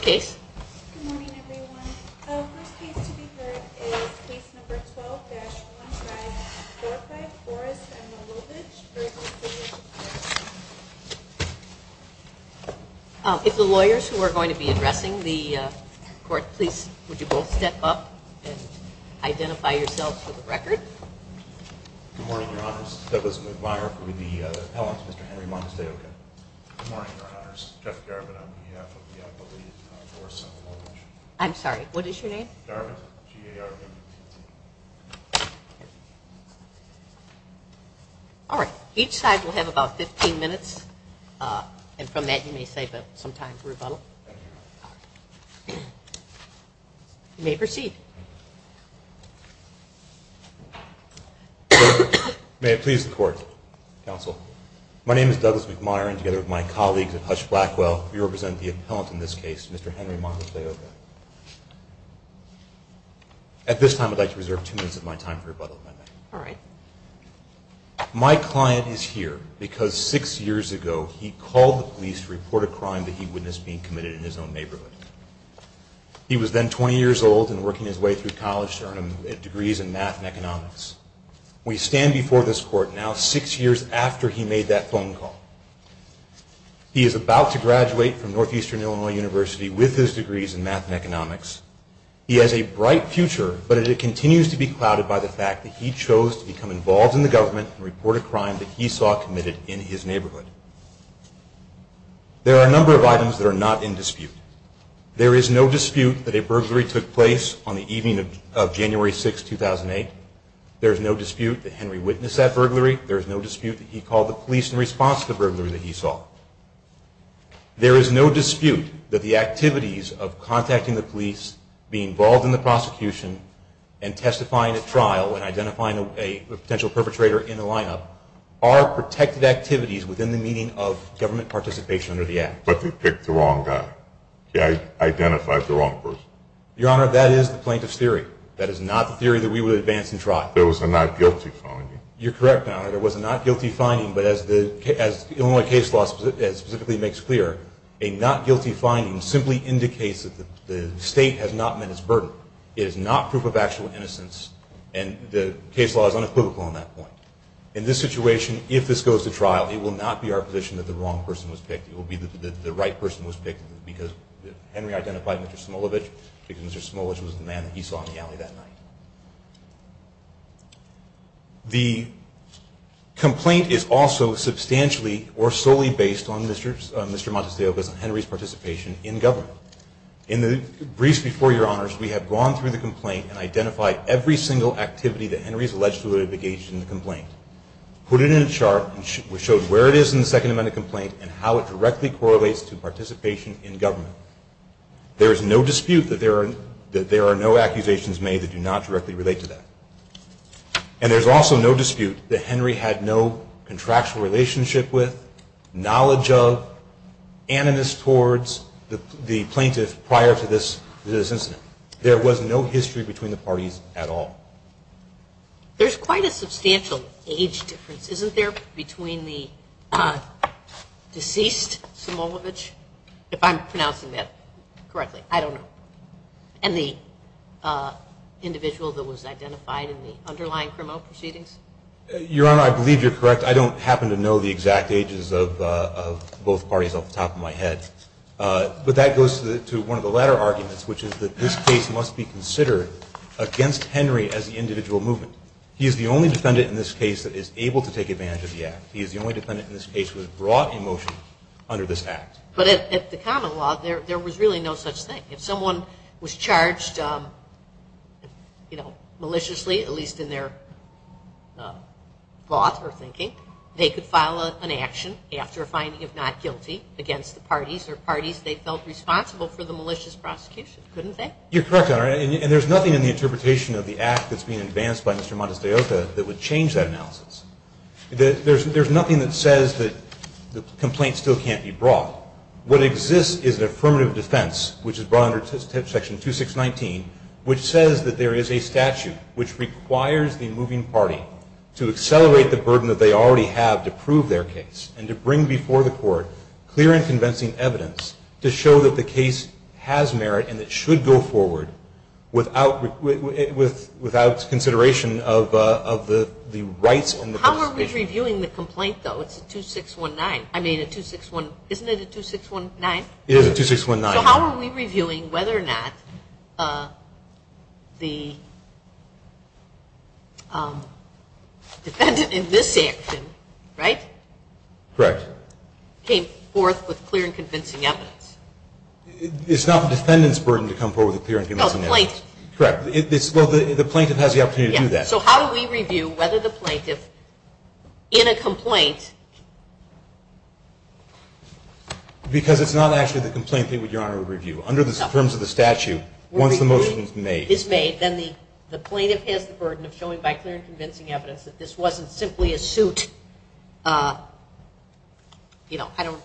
Case No. 12-15 Forrest v. Moylovich vs. City of Chicago If the lawyers who are going to be addressing the court, please, would you both step up and identify yourselves for the record? Good morning, Your Honors. This is Douglas McMeyer from the appellants, Mr. Henry Montesdeoca. Good morning, Your Honors. Jeff Garvin on behalf of the appellate board. I'm sorry, what is your name? Garvin, G-A-R-V-I-N. All right. Each side will have about 15 minutes, and from that you may save up some time for rebuttal. You may proceed. May it please the Court, Counsel. My name is Douglas McMeyer, and together with my colleagues at Hutch Blackwell, we represent the appellant in this case, Mr. Henry Montesdeoca. At this time, I'd like to reserve two minutes of my time for rebuttal. All right. My client is here because six years ago he called the police to report a crime that he witnessed being committed in his own neighborhood. He was then 20 years old and working his way through college to earn degrees in math and economics. We stand before this Court now six years after he made that phone call. He is about to graduate from Northeastern Illinois University with his degrees in math and economics. He has a bright future, but it continues to be clouded by the fact that he chose to become involved in the government and report a crime that he saw committed in his neighborhood. There are a number of items that are not in dispute. There is no dispute that a burglary took place on the evening of January 6, 2008. There is no dispute that Henry witnessed that burglary. There is no dispute that he called the police in response to the burglary that he saw. There is no dispute that the activities of contacting the police, being involved in the prosecution, and testifying at trial and identifying a potential perpetrator in the lineup are protected activities within the meaning of government participation under the app. But they picked the wrong guy. They identified the wrong person. Your Honor, that is the plaintiff's theory. That is not the theory that we would advance in trial. There was a not guilty finding. You're correct, Your Honor. There was a not guilty finding, but as Illinois case law specifically makes clear, a not guilty finding simply indicates that the state has not met its burden. It is not proof of actual innocence, and the case law is unequivocal on that point. In this situation, if this goes to trial, it will not be our position that the wrong person was picked. It will be that the right person was picked because Henry identified Mr. Smolovitch because Mr. Smolovitch was the man that he saw in the alley that night. The complaint is also substantially or solely based on Mr. Montesillo because of Henry's participation in government. In the briefs before you, Your Honors, we have gone through the complaint and identified every single activity that Henry is alleged to have engaged in the complaint, put it in a chart, and showed where it is in the Second Amendment complaint and how it directly correlates to participation in government. There is no dispute that there are no accusations made that do not directly relate to that. And there is also no dispute that Henry had no contractual relationship with, knowledge of, animus towards the plaintiff prior to this incident. There was no history between the parties at all. There is quite a substantial age difference, isn't there, between the deceased Smolovitch, if I'm pronouncing that correctly, I don't know, and the individual that was identified in the underlying criminal proceedings? Your Honor, I believe you're correct. I don't happen to know the exact ages of both parties off the top of my head. But that goes to one of the latter arguments, which is that this case must be considered against Henry as the individual movement. He is the only defendant in this case that is able to take advantage of the act. He is the only defendant in this case who has brought a motion under this act. But at the common law, there was really no such thing. If someone was charged maliciously, at least in their thought or thinking, they could file an action after a finding of not guilty against the parties or parties they felt responsible for the malicious prosecution, couldn't they? You're correct, Your Honor, and there's nothing in the interpretation of the act that's being advanced by Mr. Montestaioca that would change that analysis. There's nothing that says that the complaint still can't be brought. What exists is an affirmative defense, which is brought under Section 2619, which says that there is a statute which requires the moving party to accelerate the burden that they already have to prove their case and to bring before the court clear and convincing evidence to show that the case has merit and it should go forward without consideration of the rights and the position. How are we reviewing the complaint, though? It's a 2619. I mean, isn't it a 2619? It is a 2619. So how are we reviewing whether or not the defendant in this action, right? Correct. Came forth with clear and convincing evidence. It's not the defendant's burden to come forward with clear and convincing evidence. Correct. Well, the plaintiff has the opportunity to do that. So how do we review whether the plaintiff in a complaint? Because it's not actually the complaint that Your Honor would review. Under the terms of the statute, once the motion is made. Is made, then the plaintiff has the burden of showing by clear and convincing evidence that this wasn't simply a suit, you know, I don't,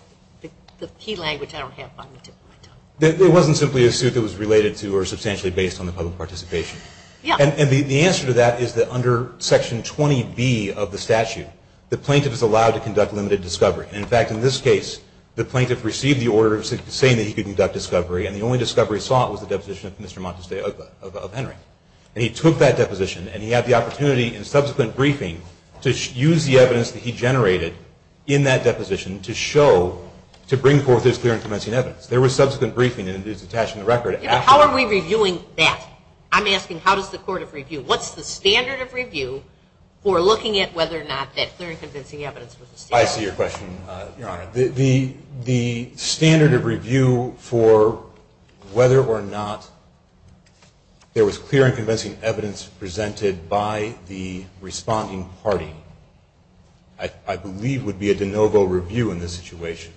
the key language I don't have on the tip of my tongue. It wasn't simply a suit that was related to or substantially based on the public participation. Yeah. And the answer to that is that under Section 20B of the statute, the plaintiff is allowed to conduct limited discovery. And, in fact, in this case, the plaintiff received the order saying that he could conduct discovery and the only discovery sought was the deposition of Mr. Montesdey of Henry. And he took that deposition and he had the opportunity in subsequent briefing to use the evidence that he generated in that deposition to show, to bring forth his clear and convincing evidence. There was subsequent briefing and it is attached in the record. How are we reviewing that? I'm asking how does the court of review? What's the standard of review for looking at whether or not that clear and convincing evidence was established? I see your question, Your Honor. The standard of review for whether or not there was clear and convincing evidence presented by the responding party, I believe, would be a de novo review in this situation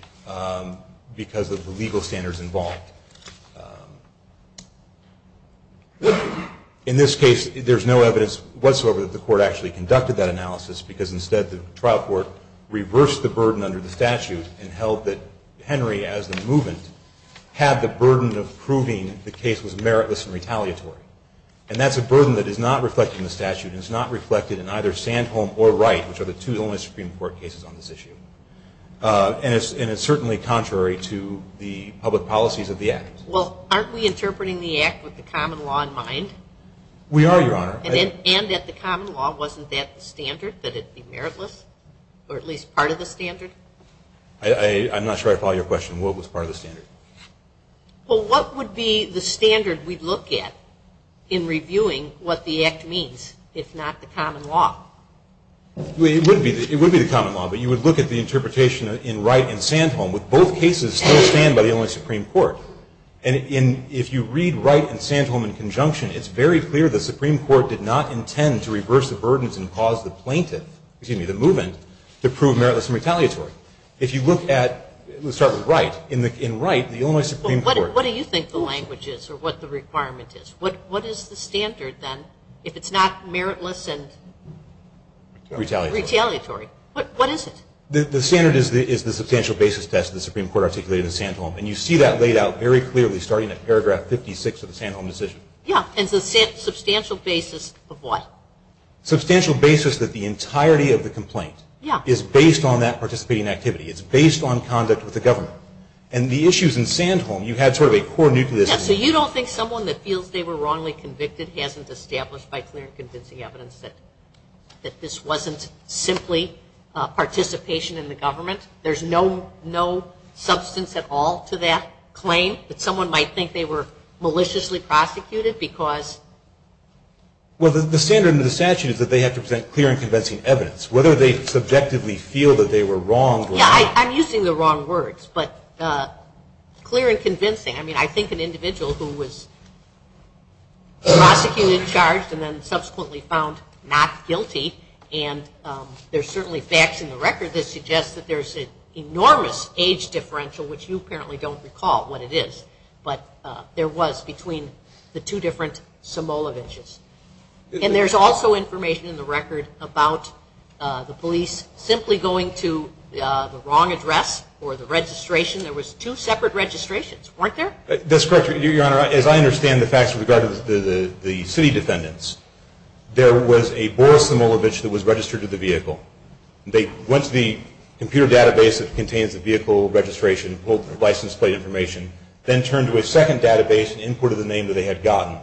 because of the legal standards involved. In this case, there's no evidence whatsoever that the court actually conducted that analysis because, instead, the trial court reversed the burden under the statute and held that Henry, as the movement, had the burden of proving the case was meritless and retaliatory. And that's a burden that is not reflected in the statute and is not reflected in either Sandholm or Wright, which are the two only Supreme Court cases on this issue. And it's certainly contrary to the public policies of the Act. Well, aren't we interpreting the Act with the common law in mind? We are, Your Honor. And at the common law, wasn't that the standard, that it be meritless, or at least part of the standard? I'm not sure I follow your question. What was part of the standard? Well, what would be the standard we'd look at in reviewing what the Act means, if not the common law? It would be the common law, but you would look at the interpretation in Wright and Sandholm, with both cases still stand by the only Supreme Court. And if you read Wright and Sandholm in conjunction, it's very clear the Supreme Court did not intend to reverse the burdens and cause the plaintiff, excuse me, the movement, to prove meritless and retaliatory. If you look at, let's start with Wright. In Wright, the only Supreme Court. Well, what do you think the language is, or what the requirement is? What is the standard, then, if it's not meritless and retaliatory? What is it? The standard is the substantial basis test the Supreme Court articulated in Sandholm. And you see that laid out very clearly starting at paragraph 56 of the Sandholm decision. Yeah, and the substantial basis of what? Substantial basis that the entirety of the complaint is based on that participating activity. It's based on conduct with the government. And the issues in Sandholm, you had sort of a core nucleus. Yeah, so you don't think someone that feels they were wrongly convicted hasn't established by clear and convincing evidence that this wasn't simply participation in the government? There's no substance at all to that claim that someone might think they were maliciously prosecuted because? Well, the standard in the statute is that they have to present clear and convincing evidence. Whether they subjectively feel that they were wrong or not. Yeah, I'm using the wrong words, but clear and convincing. I mean, I think an individual who was prosecuted, charged, and then subsequently found not guilty, and there's certainly facts in the record that suggest that there's an enormous age differential, which you apparently don't recall what it is. But there was between the two different Somalavichs. And there's also information in the record about the police simply going to the wrong address or the registration. There was two separate registrations, weren't there? That's correct, Your Honor. Your Honor, as I understand the facts with regard to the city defendants, there was a Boris Somalavich that was registered to the vehicle. They went to the computer database that contains the vehicle registration, pulled the license plate information, then turned to a second database and inputted the name that they had gotten.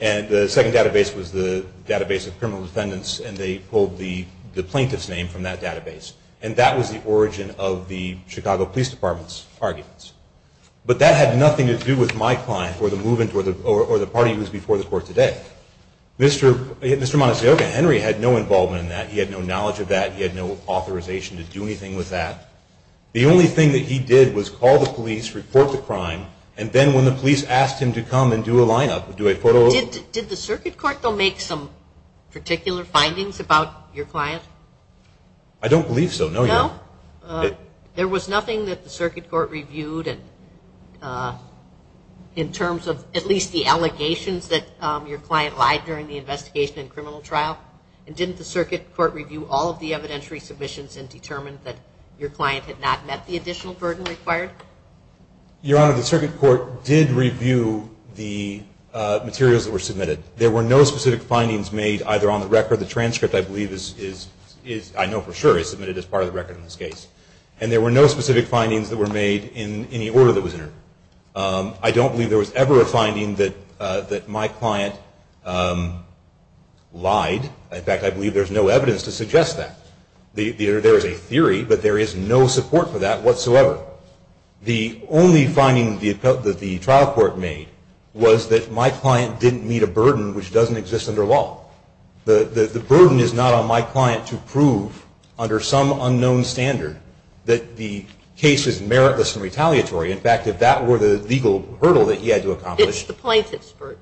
And the second database was the database of criminal defendants, and they pulled the plaintiff's name from that database. And that was the origin of the Chicago Police Department's arguments. But that had nothing to do with my client or the party who was before the court today. Mr. Monticello Henry had no involvement in that. He had no knowledge of that. He had no authorization to do anything with that. The only thing that he did was call the police, report the crime, and then when the police asked him to come and do a lineup, do a photo op. Did the circuit court, though, make some particular findings about your client? I don't believe so, no, Your Honor. No. There was nothing that the circuit court reviewed in terms of at least the allegations that your client lied during the investigation and criminal trial? And didn't the circuit court review all of the evidentiary submissions and determine that your client had not met the additional burden required? Your Honor, the circuit court did review the materials that were submitted. There were no specific findings made either on the record. The transcript, I know for sure, is submitted as part of the record in this case. And there were no specific findings that were made in any order that was entered. I don't believe there was ever a finding that my client lied. In fact, I believe there's no evidence to suggest that. There is a theory, but there is no support for that whatsoever. The only finding that the trial court made was that my client didn't meet a burden which doesn't exist under law. The burden is not on my client to prove under some unknown standard that the case is meritless and retaliatory. In fact, if that were the legal hurdle that he had to accomplish. It's the plaintiff's burden.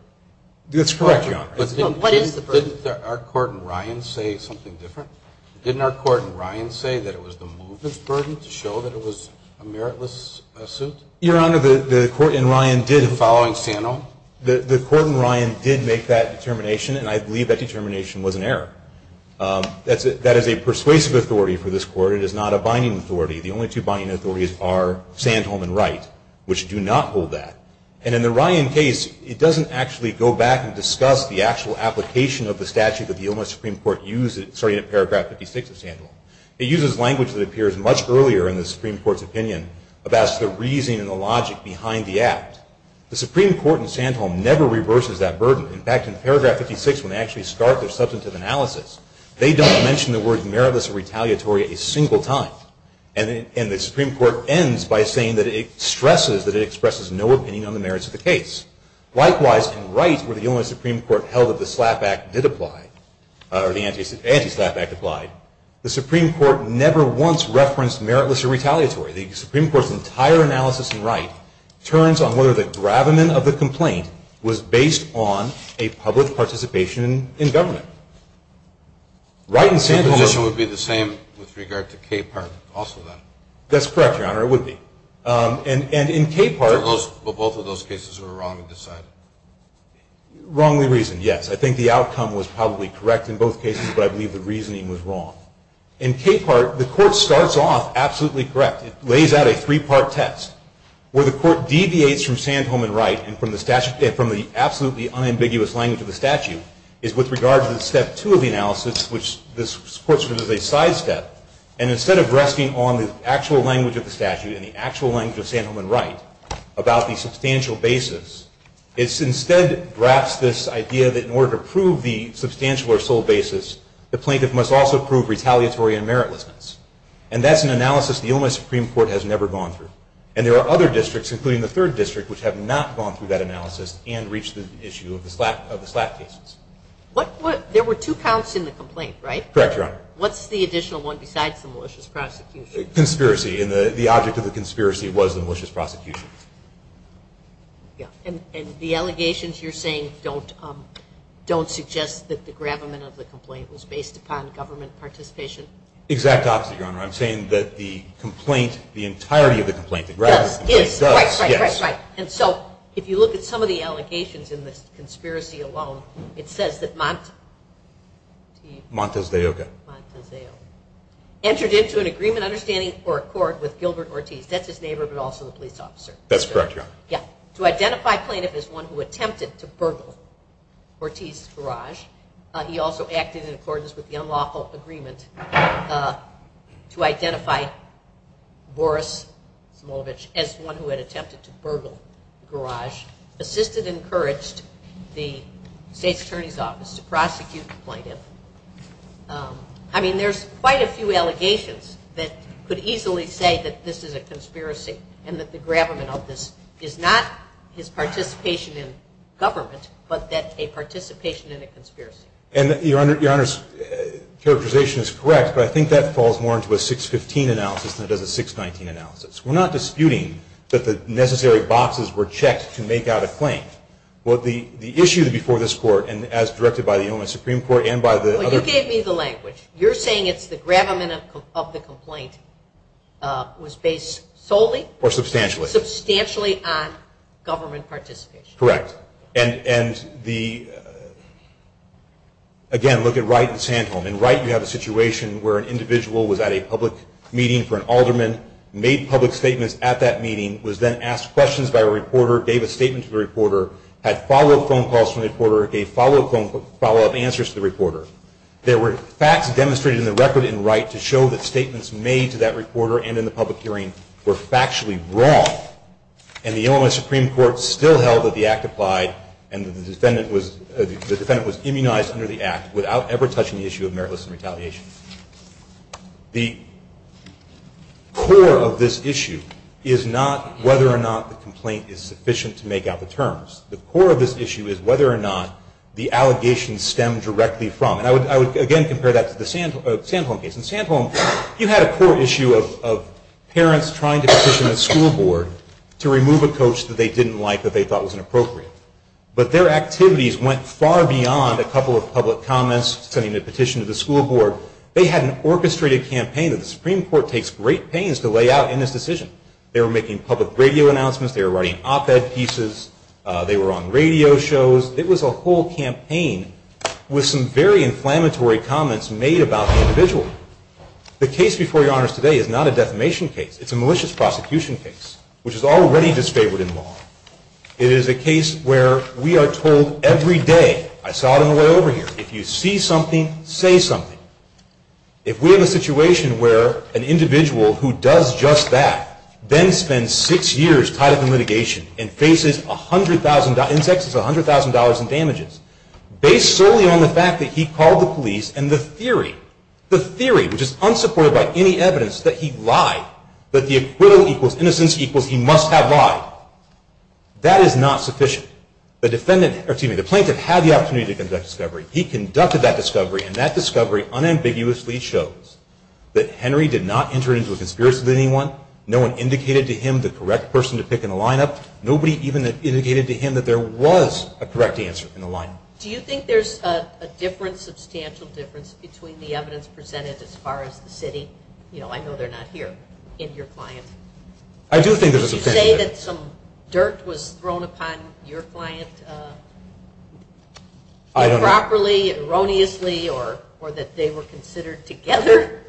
That's correct, Your Honor. But what is the burden? Didn't our court in Ryan say something different? Didn't our court in Ryan say that it was the movement's burden to show that it was a meritless suit? Your Honor, the court in Ryan did. In following Sano? The court in Ryan did make that determination, and I believe that determination was an error. That is a persuasive authority for this court. It is not a binding authority. The only two binding authorities are Sandholm and Wright, which do not hold that. And in the Ryan case, it doesn't actually go back and discuss the actual application of the statute that the Illinois Supreme Court used, starting at paragraph 56 of Sandholm. It uses language that appears much earlier in the Supreme Court's opinion about the reasoning and the logic behind the act. The Supreme Court in Sandholm never reverses that burden. In fact, in paragraph 56, when they actually start their substantive analysis, they don't mention the word meritless or retaliatory a single time. And the Supreme Court ends by saying that it stresses that it expresses no opinion on the merits of the case. Likewise, in Wright, where the Illinois Supreme Court held that the anti-SLAPP Act applied, the Supreme Court never once referenced meritless or retaliatory. The Supreme Court's entire analysis in Wright turns on whether the gravamen of the complaint was based on a public participation in government. Wright and Sandholm... The position would be the same with regard to Capehart also, then? That's correct, Your Honor. It would be. And in Capehart... But both of those cases were wrongly decided? Wrongly reasoned, yes. I think the outcome was probably correct in both cases, but I believe the reasoning was wrong. In Capehart, the court starts off absolutely correct. It lays out a three-part test. Where the court deviates from Sandholm and Wright, and from the absolutely unambiguous language of the statute, is with regard to the step two of the analysis, which the court considers a sidestep. And instead of resting on the actual language of the statute and the actual language of Sandholm and Wright about the substantial basis, it instead drafts this idea that in order to prove the substantial or sole basis, the plaintiff must also prove retaliatory and meritlessness. And that's an analysis the Illinois Supreme Court has never gone through. And there are other districts, including the third district, which have not gone through that analysis and reached the issue of the SLAPP cases. There were two counts in the complaint, right? Correct, Your Honor. What's the additional one besides the malicious prosecution? Conspiracy. And the object of the conspiracy was the malicious prosecution. And the allegations you're saying don't suggest that the gravamen of the complaint was based upon government participation? Exact opposite, Your Honor. I'm saying that the complaint, the entirety of the complaint, the gravamen of the complaint does. Right, right, right, right. And so if you look at some of the allegations in this conspiracy alone, it says that Montesdeo entered into an agreement, understanding, or accord with Gilbert Ortiz. That's his neighbor, but also the police officer. That's correct, Your Honor. To identify plaintiff as one who attempted to burgle Ortiz's garage, he also acted in accordance with the unlawful agreement to identify Boris Smolovitch as one who had attempted to burgle the garage, assisted and encouraged the State's Attorney's Office to prosecute the plaintiff. I mean, there's quite a few allegations that could easily say that this is a conspiracy and that the gravamen of this is not his participation in government, but that a participation in a conspiracy. And Your Honor's characterization is correct, but I think that falls more into a 615 analysis than it does a 619 analysis. We're not disputing that the necessary boxes were checked to make out a claim. Well, the issue before this Court, and as directed by the Illinois Supreme Court and by the other- Well, you gave me the language. You're saying it's the gravamen of the complaint was based solely- Or substantially. Substantially on government participation. Correct. And again, look at Wright and Sandholm. In Wright, you have a situation where an individual was at a public meeting for an alderman, made public statements at that meeting, was then asked questions by a reporter, gave a statement to the reporter, had follow-up phone calls from the reporter, gave follow-up answers to the reporter. There were facts demonstrated in the record in Wright to show that statements made to that reporter and in the public hearing were factually wrong. And the Illinois Supreme Court still held that the act applied and the defendant was immunized under the act without ever touching the issue of meritless retaliation. The core of this issue is not whether or not the complaint is sufficient to make out the terms. The core of this issue is whether or not the allegations stem directly from. And I would again compare that to the Sandholm case. In Sandholm, you had a core issue of parents trying to petition a school board to remove a coach that they didn't like, that they thought was inappropriate. But their activities went far beyond a couple of public comments, sending a petition to the school board. They had an orchestrated campaign that the Supreme Court takes great pains to lay out in this decision. They were making public radio announcements. They were writing op-ed pieces. They were on radio shows. It was a whole campaign with some very inflammatory comments made about the individual. The case before your honors today is not a defamation case. It's a malicious prosecution case, which is already disfavored in law. It is a case where we are told every day, I saw it on the way over here, if you see something, say something. If we have a situation where an individual who does just that then spends six years tied up in litigation and faces $100,000 in taxes, $100,000 in damages, based solely on the fact that he called the police and the theory, the theory, which is unsupported by any evidence that he lied, that the acquittal equals innocence equals he must have lied, that is not sufficient. The plaintiff had the opportunity to conduct discovery. He conducted that discovery, and that discovery unambiguously shows that Henry did not enter into a conspiracy with anyone. No one indicated to him the correct person to pick in the lineup. Nobody even indicated to him that there was a correct answer in the lineup. Do you think there's a difference, substantial difference, between the evidence presented as far as the city? You know, I know they're not here in your client. I do think there's a substantial difference. Did you say that some dirt was thrown upon your client improperly, erroneously, or that they were considered together?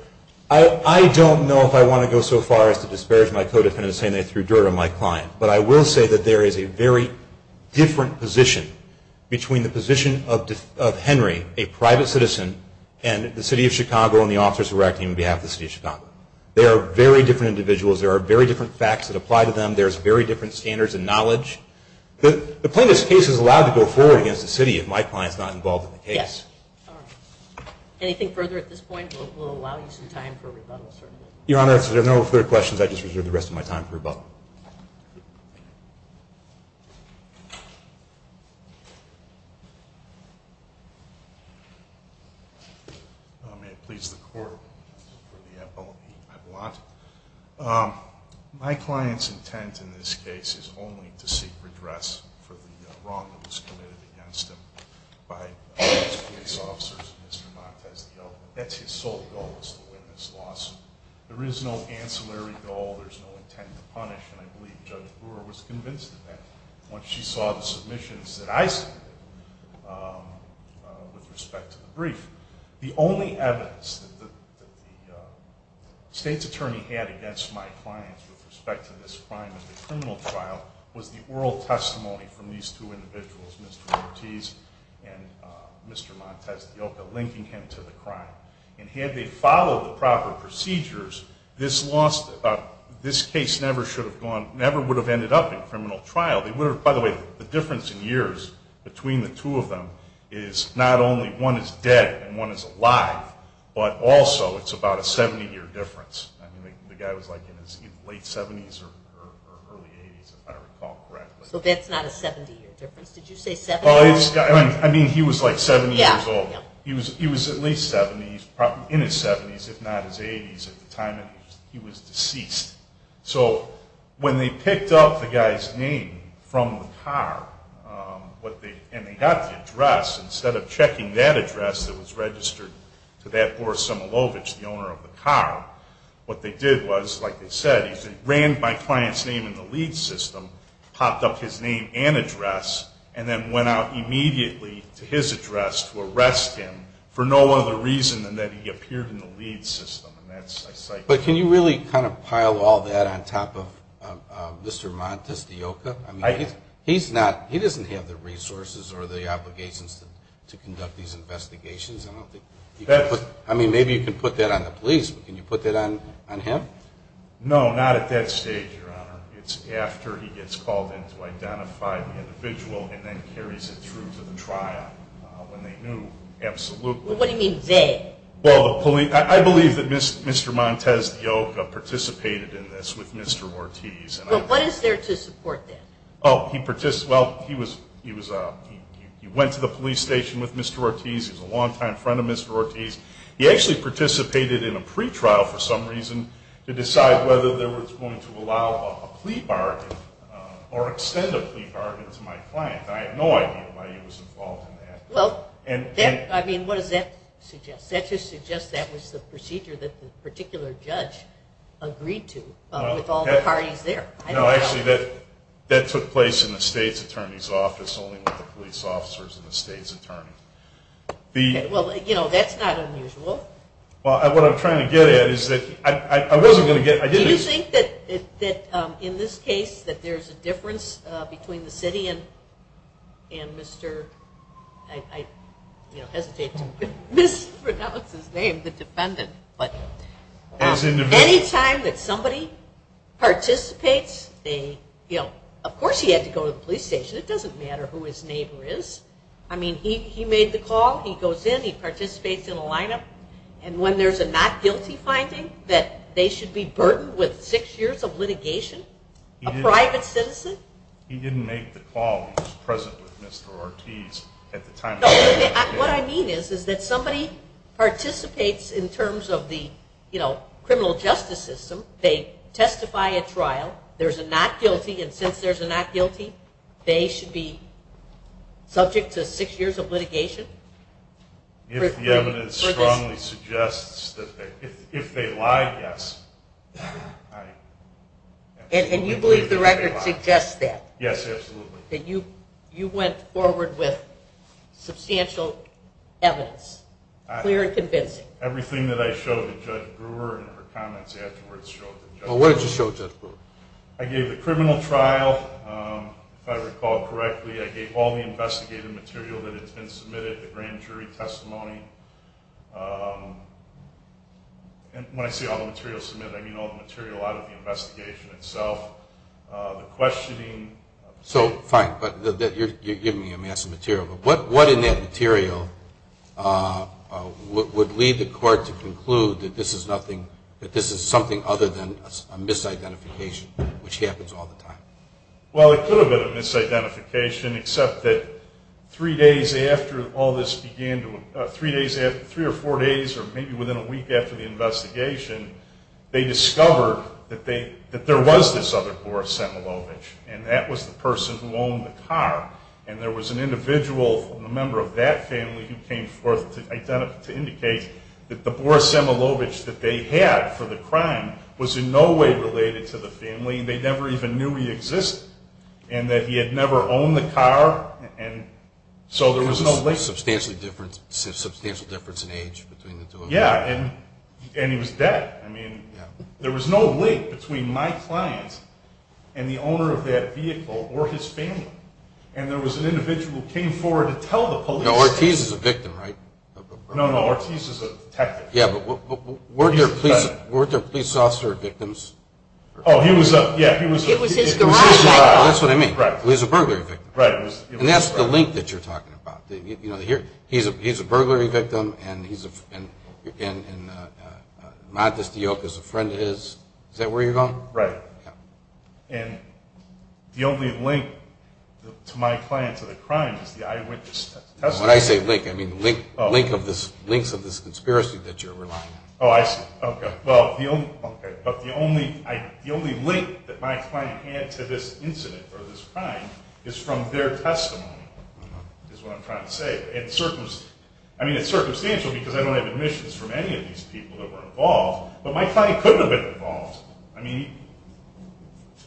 I don't know if I want to go so far as to disparage my co-defendants saying they threw dirt on my client, but I will say that there is a very different position between the position of Henry, a private citizen, and the city of Chicago and the officers who are acting on behalf of the city of Chicago. They are very different individuals. There are very different facts that apply to them. There's very different standards and knowledge. The plaintiff's case is allowed to go forward against the city if my client is not involved in the case. All right. Anything further at this point? We'll allow you some time for rebuttal, certainly. Your Honor, if there are no further questions, I just reserve the rest of my time for rebuttal. May it please the Court, for the FOB, my client's intent in this case is only to seek redress for the wrong that was committed against him by the police officers and Mr. Montes D'Onovo. That's his sole goal, is to win this lawsuit. There is no ancillary goal. There's no intent to punish, and I believe Judge Brewer was convinced of that once she saw the submissions that I submitted with respect to the brief. The only evidence that the State's attorney had against my client with respect to this crime and the criminal trial was the oral testimony from these two individuals, Mr. Ortiz and Mr. Montes D'Onovo, linking him to the crime. And had they followed the proper procedures, this case never would have ended up in criminal trial. By the way, the difference in years between the two of them is not only one is dead and one is alive, but also it's about a 70-year difference. I mean, the guy was like in his late 70s or early 80s, if I recall correctly. So that's not a 70-year difference. Did you say 70? I mean, he was like 70 years old. He was at least 70, in his 70s, if not his 80s, at the time he was deceased. So when they picked up the guy's name from the car and they got the address, instead of checking that address that was registered to that Boris Simulovic, the owner of the car, what they did was, like they said, ran my client's name in the lead system, popped up his name and address, and then went out immediately to his address to arrest him for no other reason than that he appeared in the lead system. But can you really kind of pile all that on top of Mr. Montes D'Onovo? He doesn't have the resources or the obligations to conduct these investigations. I mean, maybe you can put that on the police, but can you put that on him? No, not at that stage, Your Honor. It's after he gets called in to identify the individual and then carries it through to the trial when they knew absolutely. What do you mean, they? Well, I believe that Mr. Montes D'Onovo participated in this with Mr. Ortiz. Well, what is there to support that? Well, he went to the police station with Mr. Ortiz. He was a longtime friend of Mr. Ortiz. He actually participated in a pretrial for some reason to decide whether they were going to allow a plea bargain or extend a plea bargain to my client. I have no idea why he was involved in that. Well, I mean, what does that suggest? That just suggests that was the procedure that the particular judge agreed to with all the parties there. No, actually, that took place in the state's attorney's office only with the police officers and the state's attorney. Well, you know, that's not unusual. Well, what I'm trying to get at is that I wasn't going to get – Do you think that in this case that there's a difference between the city and Mr. – I hesitate to mispronounce his name, the defendant. Any time that somebody participates, of course he had to go to the police station. It doesn't matter who his neighbor is. I mean, he made the call. He goes in. He participates in a lineup. And when there's a not guilty finding that they should be burdened with six years of litigation, a private citizen? He didn't make the call. He was present with Mr. Ortiz at the time. No, what I mean is that somebody participates in terms of the criminal justice system. They testify at trial. There's a not guilty. And since there's a not guilty, they should be subject to six years of litigation? If the evidence strongly suggests that – if they lie, yes. And you believe the record suggests that? Yes, absolutely. That you went forward with substantial evidence? Clear and convincing? Everything that I showed to Judge Brewer and her comments afterwards showed to Judge Brewer. What did you show Judge Brewer? I gave the criminal trial, if I recall correctly. I gave all the investigative material that had been submitted, the grand jury testimony. And when I say all the material submitted, I mean all the material out of the investigation itself, the questioning. So, fine, but you're giving me a mass of material. But what in that material would lead the court to conclude that this is nothing – that this is something other than a misidentification, which happens all the time? Well, it could have been a misidentification, except that three days after all this began to – three or four days or maybe within a week after the investigation, they discovered that there was this other Boris Semelovich, and that was the person who owned the car. And there was an individual, a member of that family, who came forth to indicate that the Boris Semelovich that they had for the crime was in no way related to the family. I mean, they never even knew he existed, and that he had never owned the car, and so there was no link. There was a substantial difference in age between the two of them. Yeah, and he was dead. I mean, there was no link between my client and the owner of that vehicle or his family. And there was an individual who came forward to tell the police. Now, Ortiz is a victim, right? No, no, Ortiz is a detective. Yeah, but weren't there police officers who were victims? Oh, he was a – yeah, he was a – It was his garage. That's what I mean. Right. He was a burglary victim. Right. And that's the link that you're talking about. You know, here, he's a burglary victim, and Montes de Yoke is a friend of his. Is that where you're going? Right. Yeah. And the only link to my client to the crime is the eyewitness testimony. When I say link, I mean the links of this conspiracy that you're relying on. Oh, I see. Okay. But the only link that my client had to this incident or this crime is from their testimony, is what I'm trying to say. I mean, it's circumstantial because I don't have admissions from any of these people that were involved, but my client couldn't have been involved. I mean,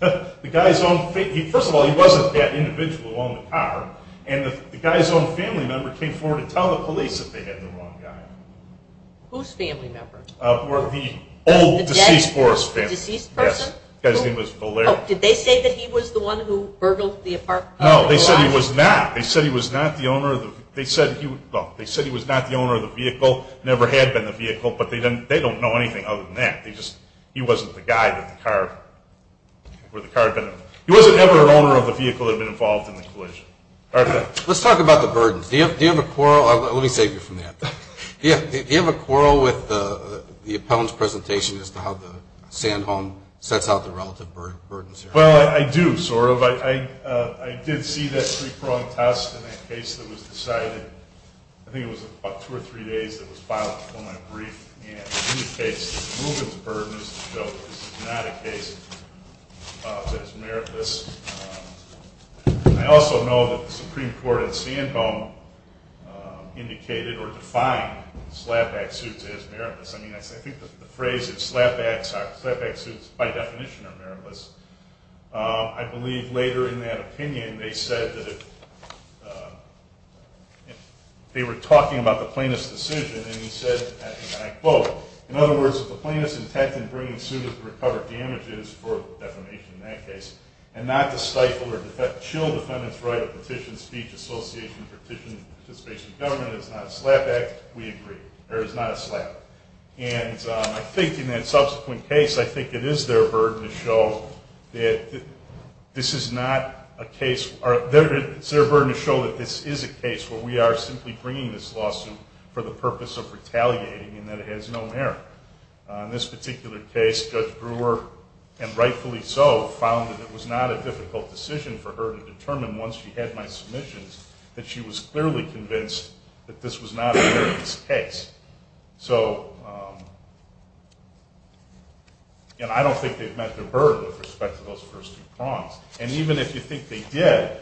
the guy's own – first of all, he wasn't that individual on the car, and the guy's own family member came forward to tell the police that they had the wrong guy. Whose family member? The old, deceased forest family. The deceased person? Yes. Oh, did they say that he was the one who burgled the apartment? No, they said he was not. They said he was not the owner of the vehicle, never had been the vehicle, but they don't know anything other than that. He wasn't the guy that the car – where the car had been. He wasn't ever an owner of the vehicle that had been involved in the collision. Let's talk about the burdens. Do you have a quarrel – let me save you from that. Yeah, do you have a quarrel with the appellant's presentation as to how the Sand Home sets out the relative burdens? Well, I do, sort of. I did see that three-pronged test in that case that was decided. I think it was about two or three days that it was filed before my brief, and it indicates that Reuben's burden is not a case that is meritless. I also know that the Supreme Court at Sand Home indicated or defined slapback suits as meritless. I mean, I think the phrase is slapback suits by definition are meritless. I believe later in that opinion they said that if – they were talking about the plaintiff's decision and he said, and I quote, in other words, if the plaintiff's intent in bringing suit is to recover damages for defamation in that case and not to stifle or chill defendant's right of petition, speech, association, petition, participation in government, it's not a slapback, we agree. There is not a slap. And I think in that subsequent case, I think it is their burden to show that this is not a case – it's their burden to show that this is a case where we are simply bringing this lawsuit for the purpose of retaliating and that it has no merit. In this particular case, Judge Brewer, and rightfully so, found that it was not a difficult decision for her to determine once she had my submissions that she was clearly convinced that this was not a meritless case. So, again, I don't think they've met their burden with respect to those first two prongs. And even if you think they did,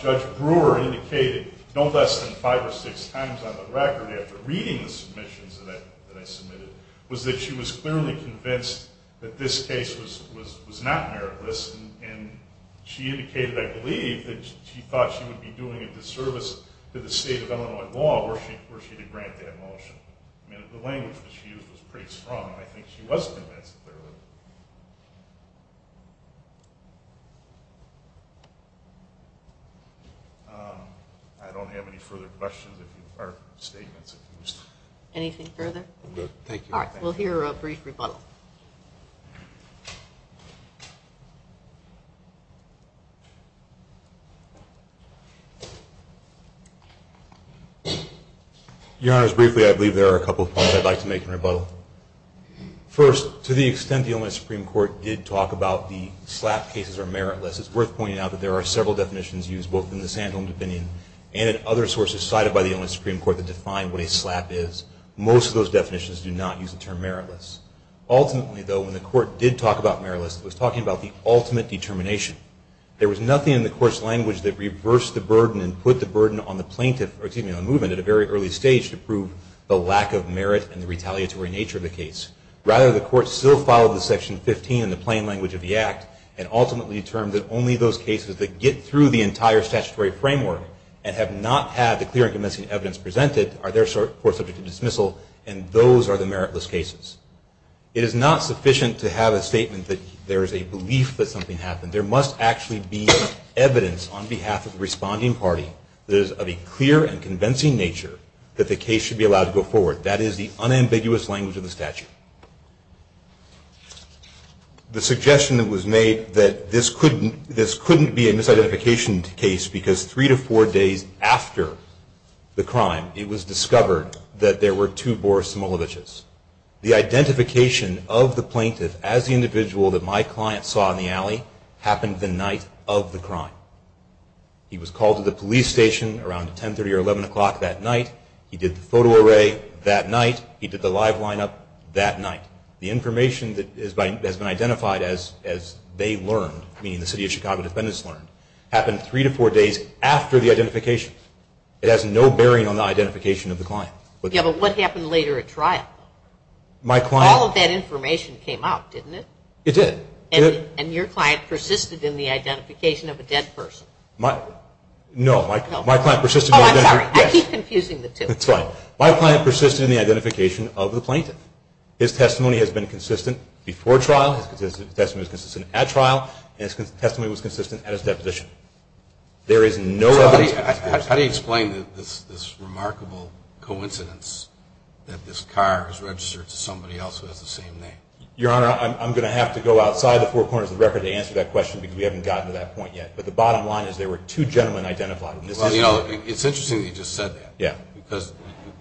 Judge Brewer indicated no less than five or six times on the record after reading the submissions that I submitted was that she was clearly convinced that this case was not meritless, and she indicated, I believe, that she thought she would be doing a disservice to the state of Illinois law were she to grant that motion. I mean, the language that she used was pretty strong, and I think she was convinced, clearly. I don't have any further questions or statements. Anything further? No, thank you. All right, we'll hear a brief rebuttal. Your Honors, briefly, I believe there are a couple of points I'd like to make in rebuttal. First, to the extent the Illinois Supreme Court did talk about the slap cases are meritless, it's worth pointing out that there are several definitions used, both in the Sandholm opinion and in other sources cited by the Illinois Supreme Court that define what a slap is. Most of those definitions do not use the term meritless. Ultimately, though, when the Court did talk about meritless, it was talking about the ultimate determination. There was nothing in the Court's language that reversed the burden and put the burden on the plaintiff, or excuse me, on the movement at a very early stage to prove the lack of merit and the retaliatory nature of the case. Rather, the Court still followed the Section 15 in the plain language of the Act and ultimately determined that only those cases that get through the entire statutory framework and have not had the clear and convincing evidence presented are therefore subject to dismissal and those are the meritless cases. It is not sufficient to have a statement that there is a belief that something happened. There must actually be evidence on behalf of the responding party that is of a clear and convincing nature that the case should be allowed to go forward. That is the unambiguous language of the statute. The suggestion that was made that this couldn't be a misidentification case is because three to four days after the crime, it was discovered that there were two Boris Smolovitches. The identification of the plaintiff as the individual that my client saw in the alley happened the night of the crime. He was called to the police station around 10.30 or 11 o'clock that night. He did the photo array that night. He did the live lineup that night. The information that has been identified as they learned, meaning the City of Chicago defendants learned, happened three to four days after the identification. It has no bearing on the identification of the client. Yes, but what happened later at trial? My client... All of that information came out, didn't it? It did. And your client persisted in the identification of a dead person? No, my client persisted... Oh, I'm sorry. I keep confusing the two. That's fine. My client persisted in the identification of the plaintiff. His testimony has been consistent before trial. His testimony was consistent at trial, and his testimony was consistent at his deposition. There is no evidence... How do you explain this remarkable coincidence that this car is registered to somebody else who has the same name? Your Honor, I'm going to have to go outside the four corners of the record to answer that question because we haven't gotten to that point yet. But the bottom line is there were two gentlemen identified. Well, you know, it's interesting that you just said that. Yeah. Because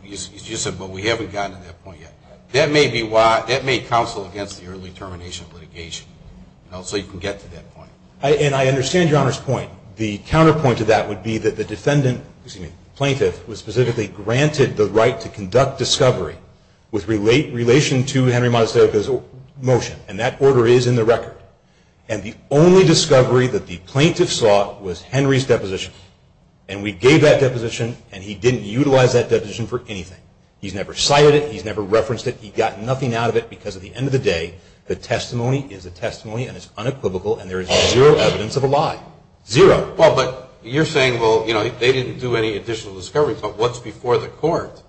you said, but we haven't gotten to that point yet. That may counsel against the early termination of litigation, so you can get to that point. And I understand Your Honor's point. The counterpoint to that would be that the defendant... excuse me... plaintiff was specifically granted the right to conduct discovery with relation to Henry Monasterio's motion. And that order is in the record. And the only discovery that the plaintiff sought was Henry's deposition. And we gave that deposition, and he didn't utilize that deposition for anything. He's never cited it. He's never referenced it. He got nothing out of it because, at the end of the day, the testimony is a testimony, and it's unequivocal, and there is zero evidence of a lie. Zero. Well, but you're saying, well, you know, they didn't do any additional discovery. But what's before the court,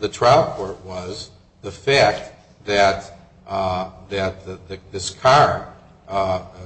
the trial court, was the fact that this car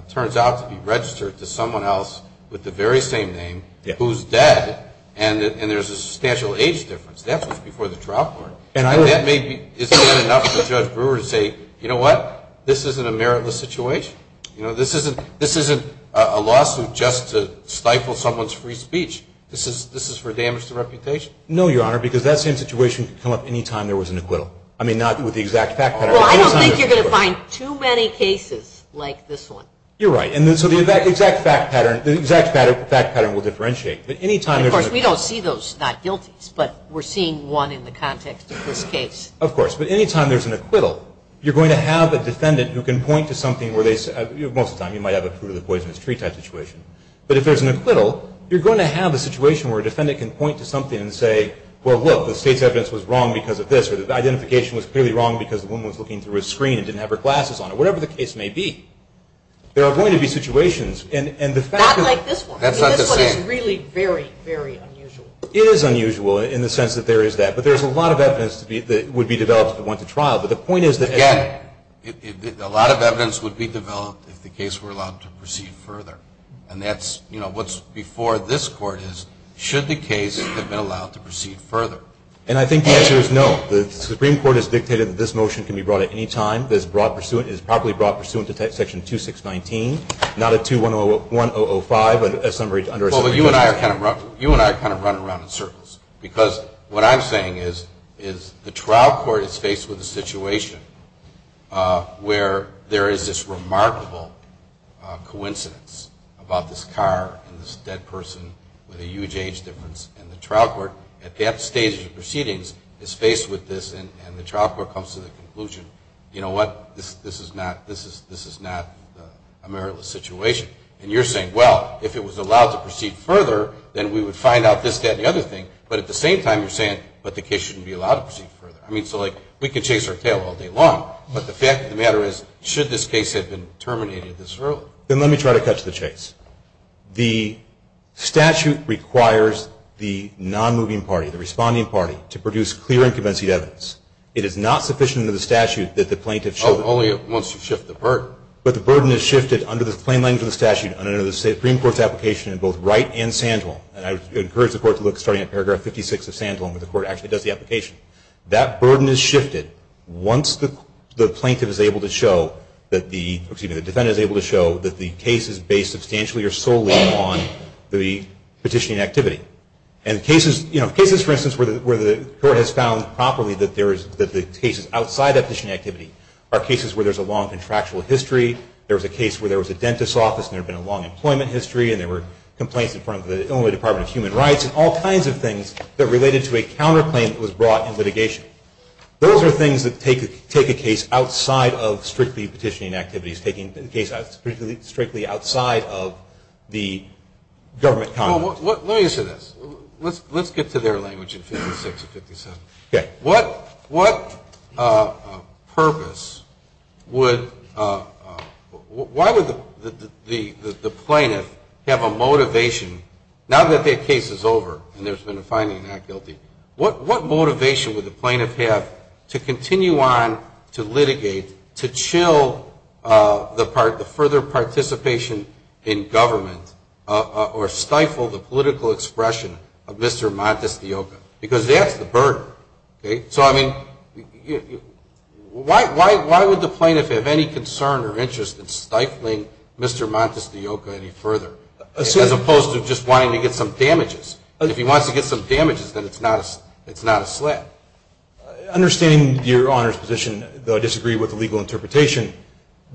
turns out to be registered to someone else with the very same name who's dead, and there's a substantial age difference. That was before the trial court. And that may be, is that enough for Judge Brewer to say, you know what? This isn't a meritless situation. You know, this isn't a lawsuit just to stifle someone's free speech. This is for damage to reputation. No, Your Honor, because that same situation could come up any time there was an acquittal. I mean, not with the exact fact pattern. Well, I don't think you're going to find too many cases like this one. You're right. And so the exact fact pattern will differentiate. Of course, we don't see those not guilties, but we're seeing one in the context of this case. Of course. But any time there's an acquittal, you're going to have a defendant who can point to something where they say, most of the time you might have a fruit of the poisonous tree type situation. But if there's an acquittal, you're going to have a situation where a defendant can point to something and say, well, look, the state's evidence was wrong because of this, or the identification was clearly wrong because the woman was looking through a screen and didn't have her glasses on, or whatever the case may be. There are going to be situations. Not like this one. That's not the same. This one is really very, very unusual. It is unusual in the sense that there is that. But there's a lot of evidence that would be developed if it went to trial. Again, a lot of evidence would be developed if the case were allowed to proceed further. And that's what's before this Court is, should the case have been allowed to proceed further. And I think the answer is no. The Supreme Court has dictated that this motion can be brought at any time. It is properly brought pursuant to Section 2619, not a 21005, Well, you and I are kind of running around in circles. Because what I'm saying is the trial court is faced with a situation where there is this remarkable coincidence about this car and this dead person with a huge age difference. And the trial court, at that stage of the proceedings, is faced with this, and the trial court comes to the conclusion, you know what, this is not a meritless situation. And you're saying, well, if it was allowed to proceed further, then we would find out this, that, and the other thing. But at the same time, you're saying, but the case shouldn't be allowed to proceed further. I mean, so, like, we could chase our tail all day long. But the fact of the matter is, should this case have been terminated this early? Then let me try to catch the chase. The statute requires the non-moving party, the responding party, to produce clear and convincing evidence. It is not sufficient under the statute that the plaintiff should Oh, only once you shift the burden. But the burden is shifted under the plain language of the statute and under the Supreme Court's application in both Wright and Sandholm. And I would encourage the court to look, starting at paragraph 56 of Sandholm, where the court actually does the application. That burden is shifted once the plaintiff is able to show that the, excuse me, the defendant is able to show that the case is based substantially or solely on the petitioning activity. And cases, you know, cases, for instance, where the court has found properly that there is, that the cases outside the petitioning activity are cases where there's a long contractual history. There was a case where there was a dentist's office and there had been a long employment history and there were complaints in front of the Illinois Department of Human Rights and all kinds of things that related to a counterclaim that was brought in litigation. Those are things that take a case outside of strictly petitioning activities, taking a case strictly outside of the government conduct. Let me say this. Let's get to their language in 56 and 57. Okay. What purpose would, why would the plaintiff have a motivation, now that that case is over and there's been a finding not guilty, what motivation would the plaintiff have to continue on to litigate, to chill the further participation in government, or stifle the political expression of Mr. Montesquieu? Because that's the burden. So, I mean, why would the plaintiff have any concern or interest in stifling Mr. Montesquieu any further, as opposed to just wanting to get some damages? If he wants to get some damages, then it's not a slap. Understanding your Honor's position, though I disagree with the legal interpretation,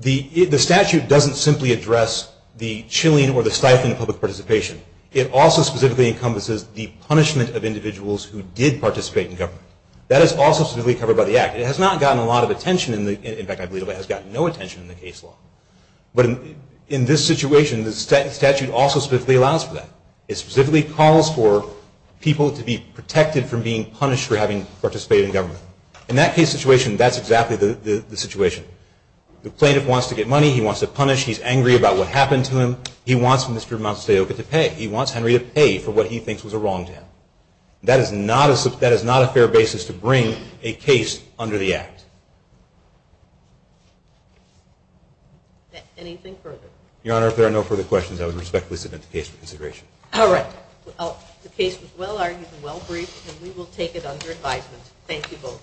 the statute doesn't simply address the chilling or the stifling of public participation. It also specifically encompasses the punishment of individuals who did participate in government. That is also specifically covered by the Act. It has not gotten a lot of attention, in fact I believe it has gotten no attention in the case law. But in this situation, the statute also specifically allows for that. It specifically calls for people to be protected from being punished for having participated in government. In that case situation, that's exactly the situation. The plaintiff wants to get money, he wants to punish, he's angry about what happened to him, he wants Mr. Montesquieu to pay. He wants Henry to pay for what he thinks was wrong to him. That is not a fair basis to bring a case under the Act. Anything further? Your Honor, if there are no further questions, I would respectfully submit the case for consideration. All right. The case was well argued and well briefed, and we will take it under advisement. Thank you both.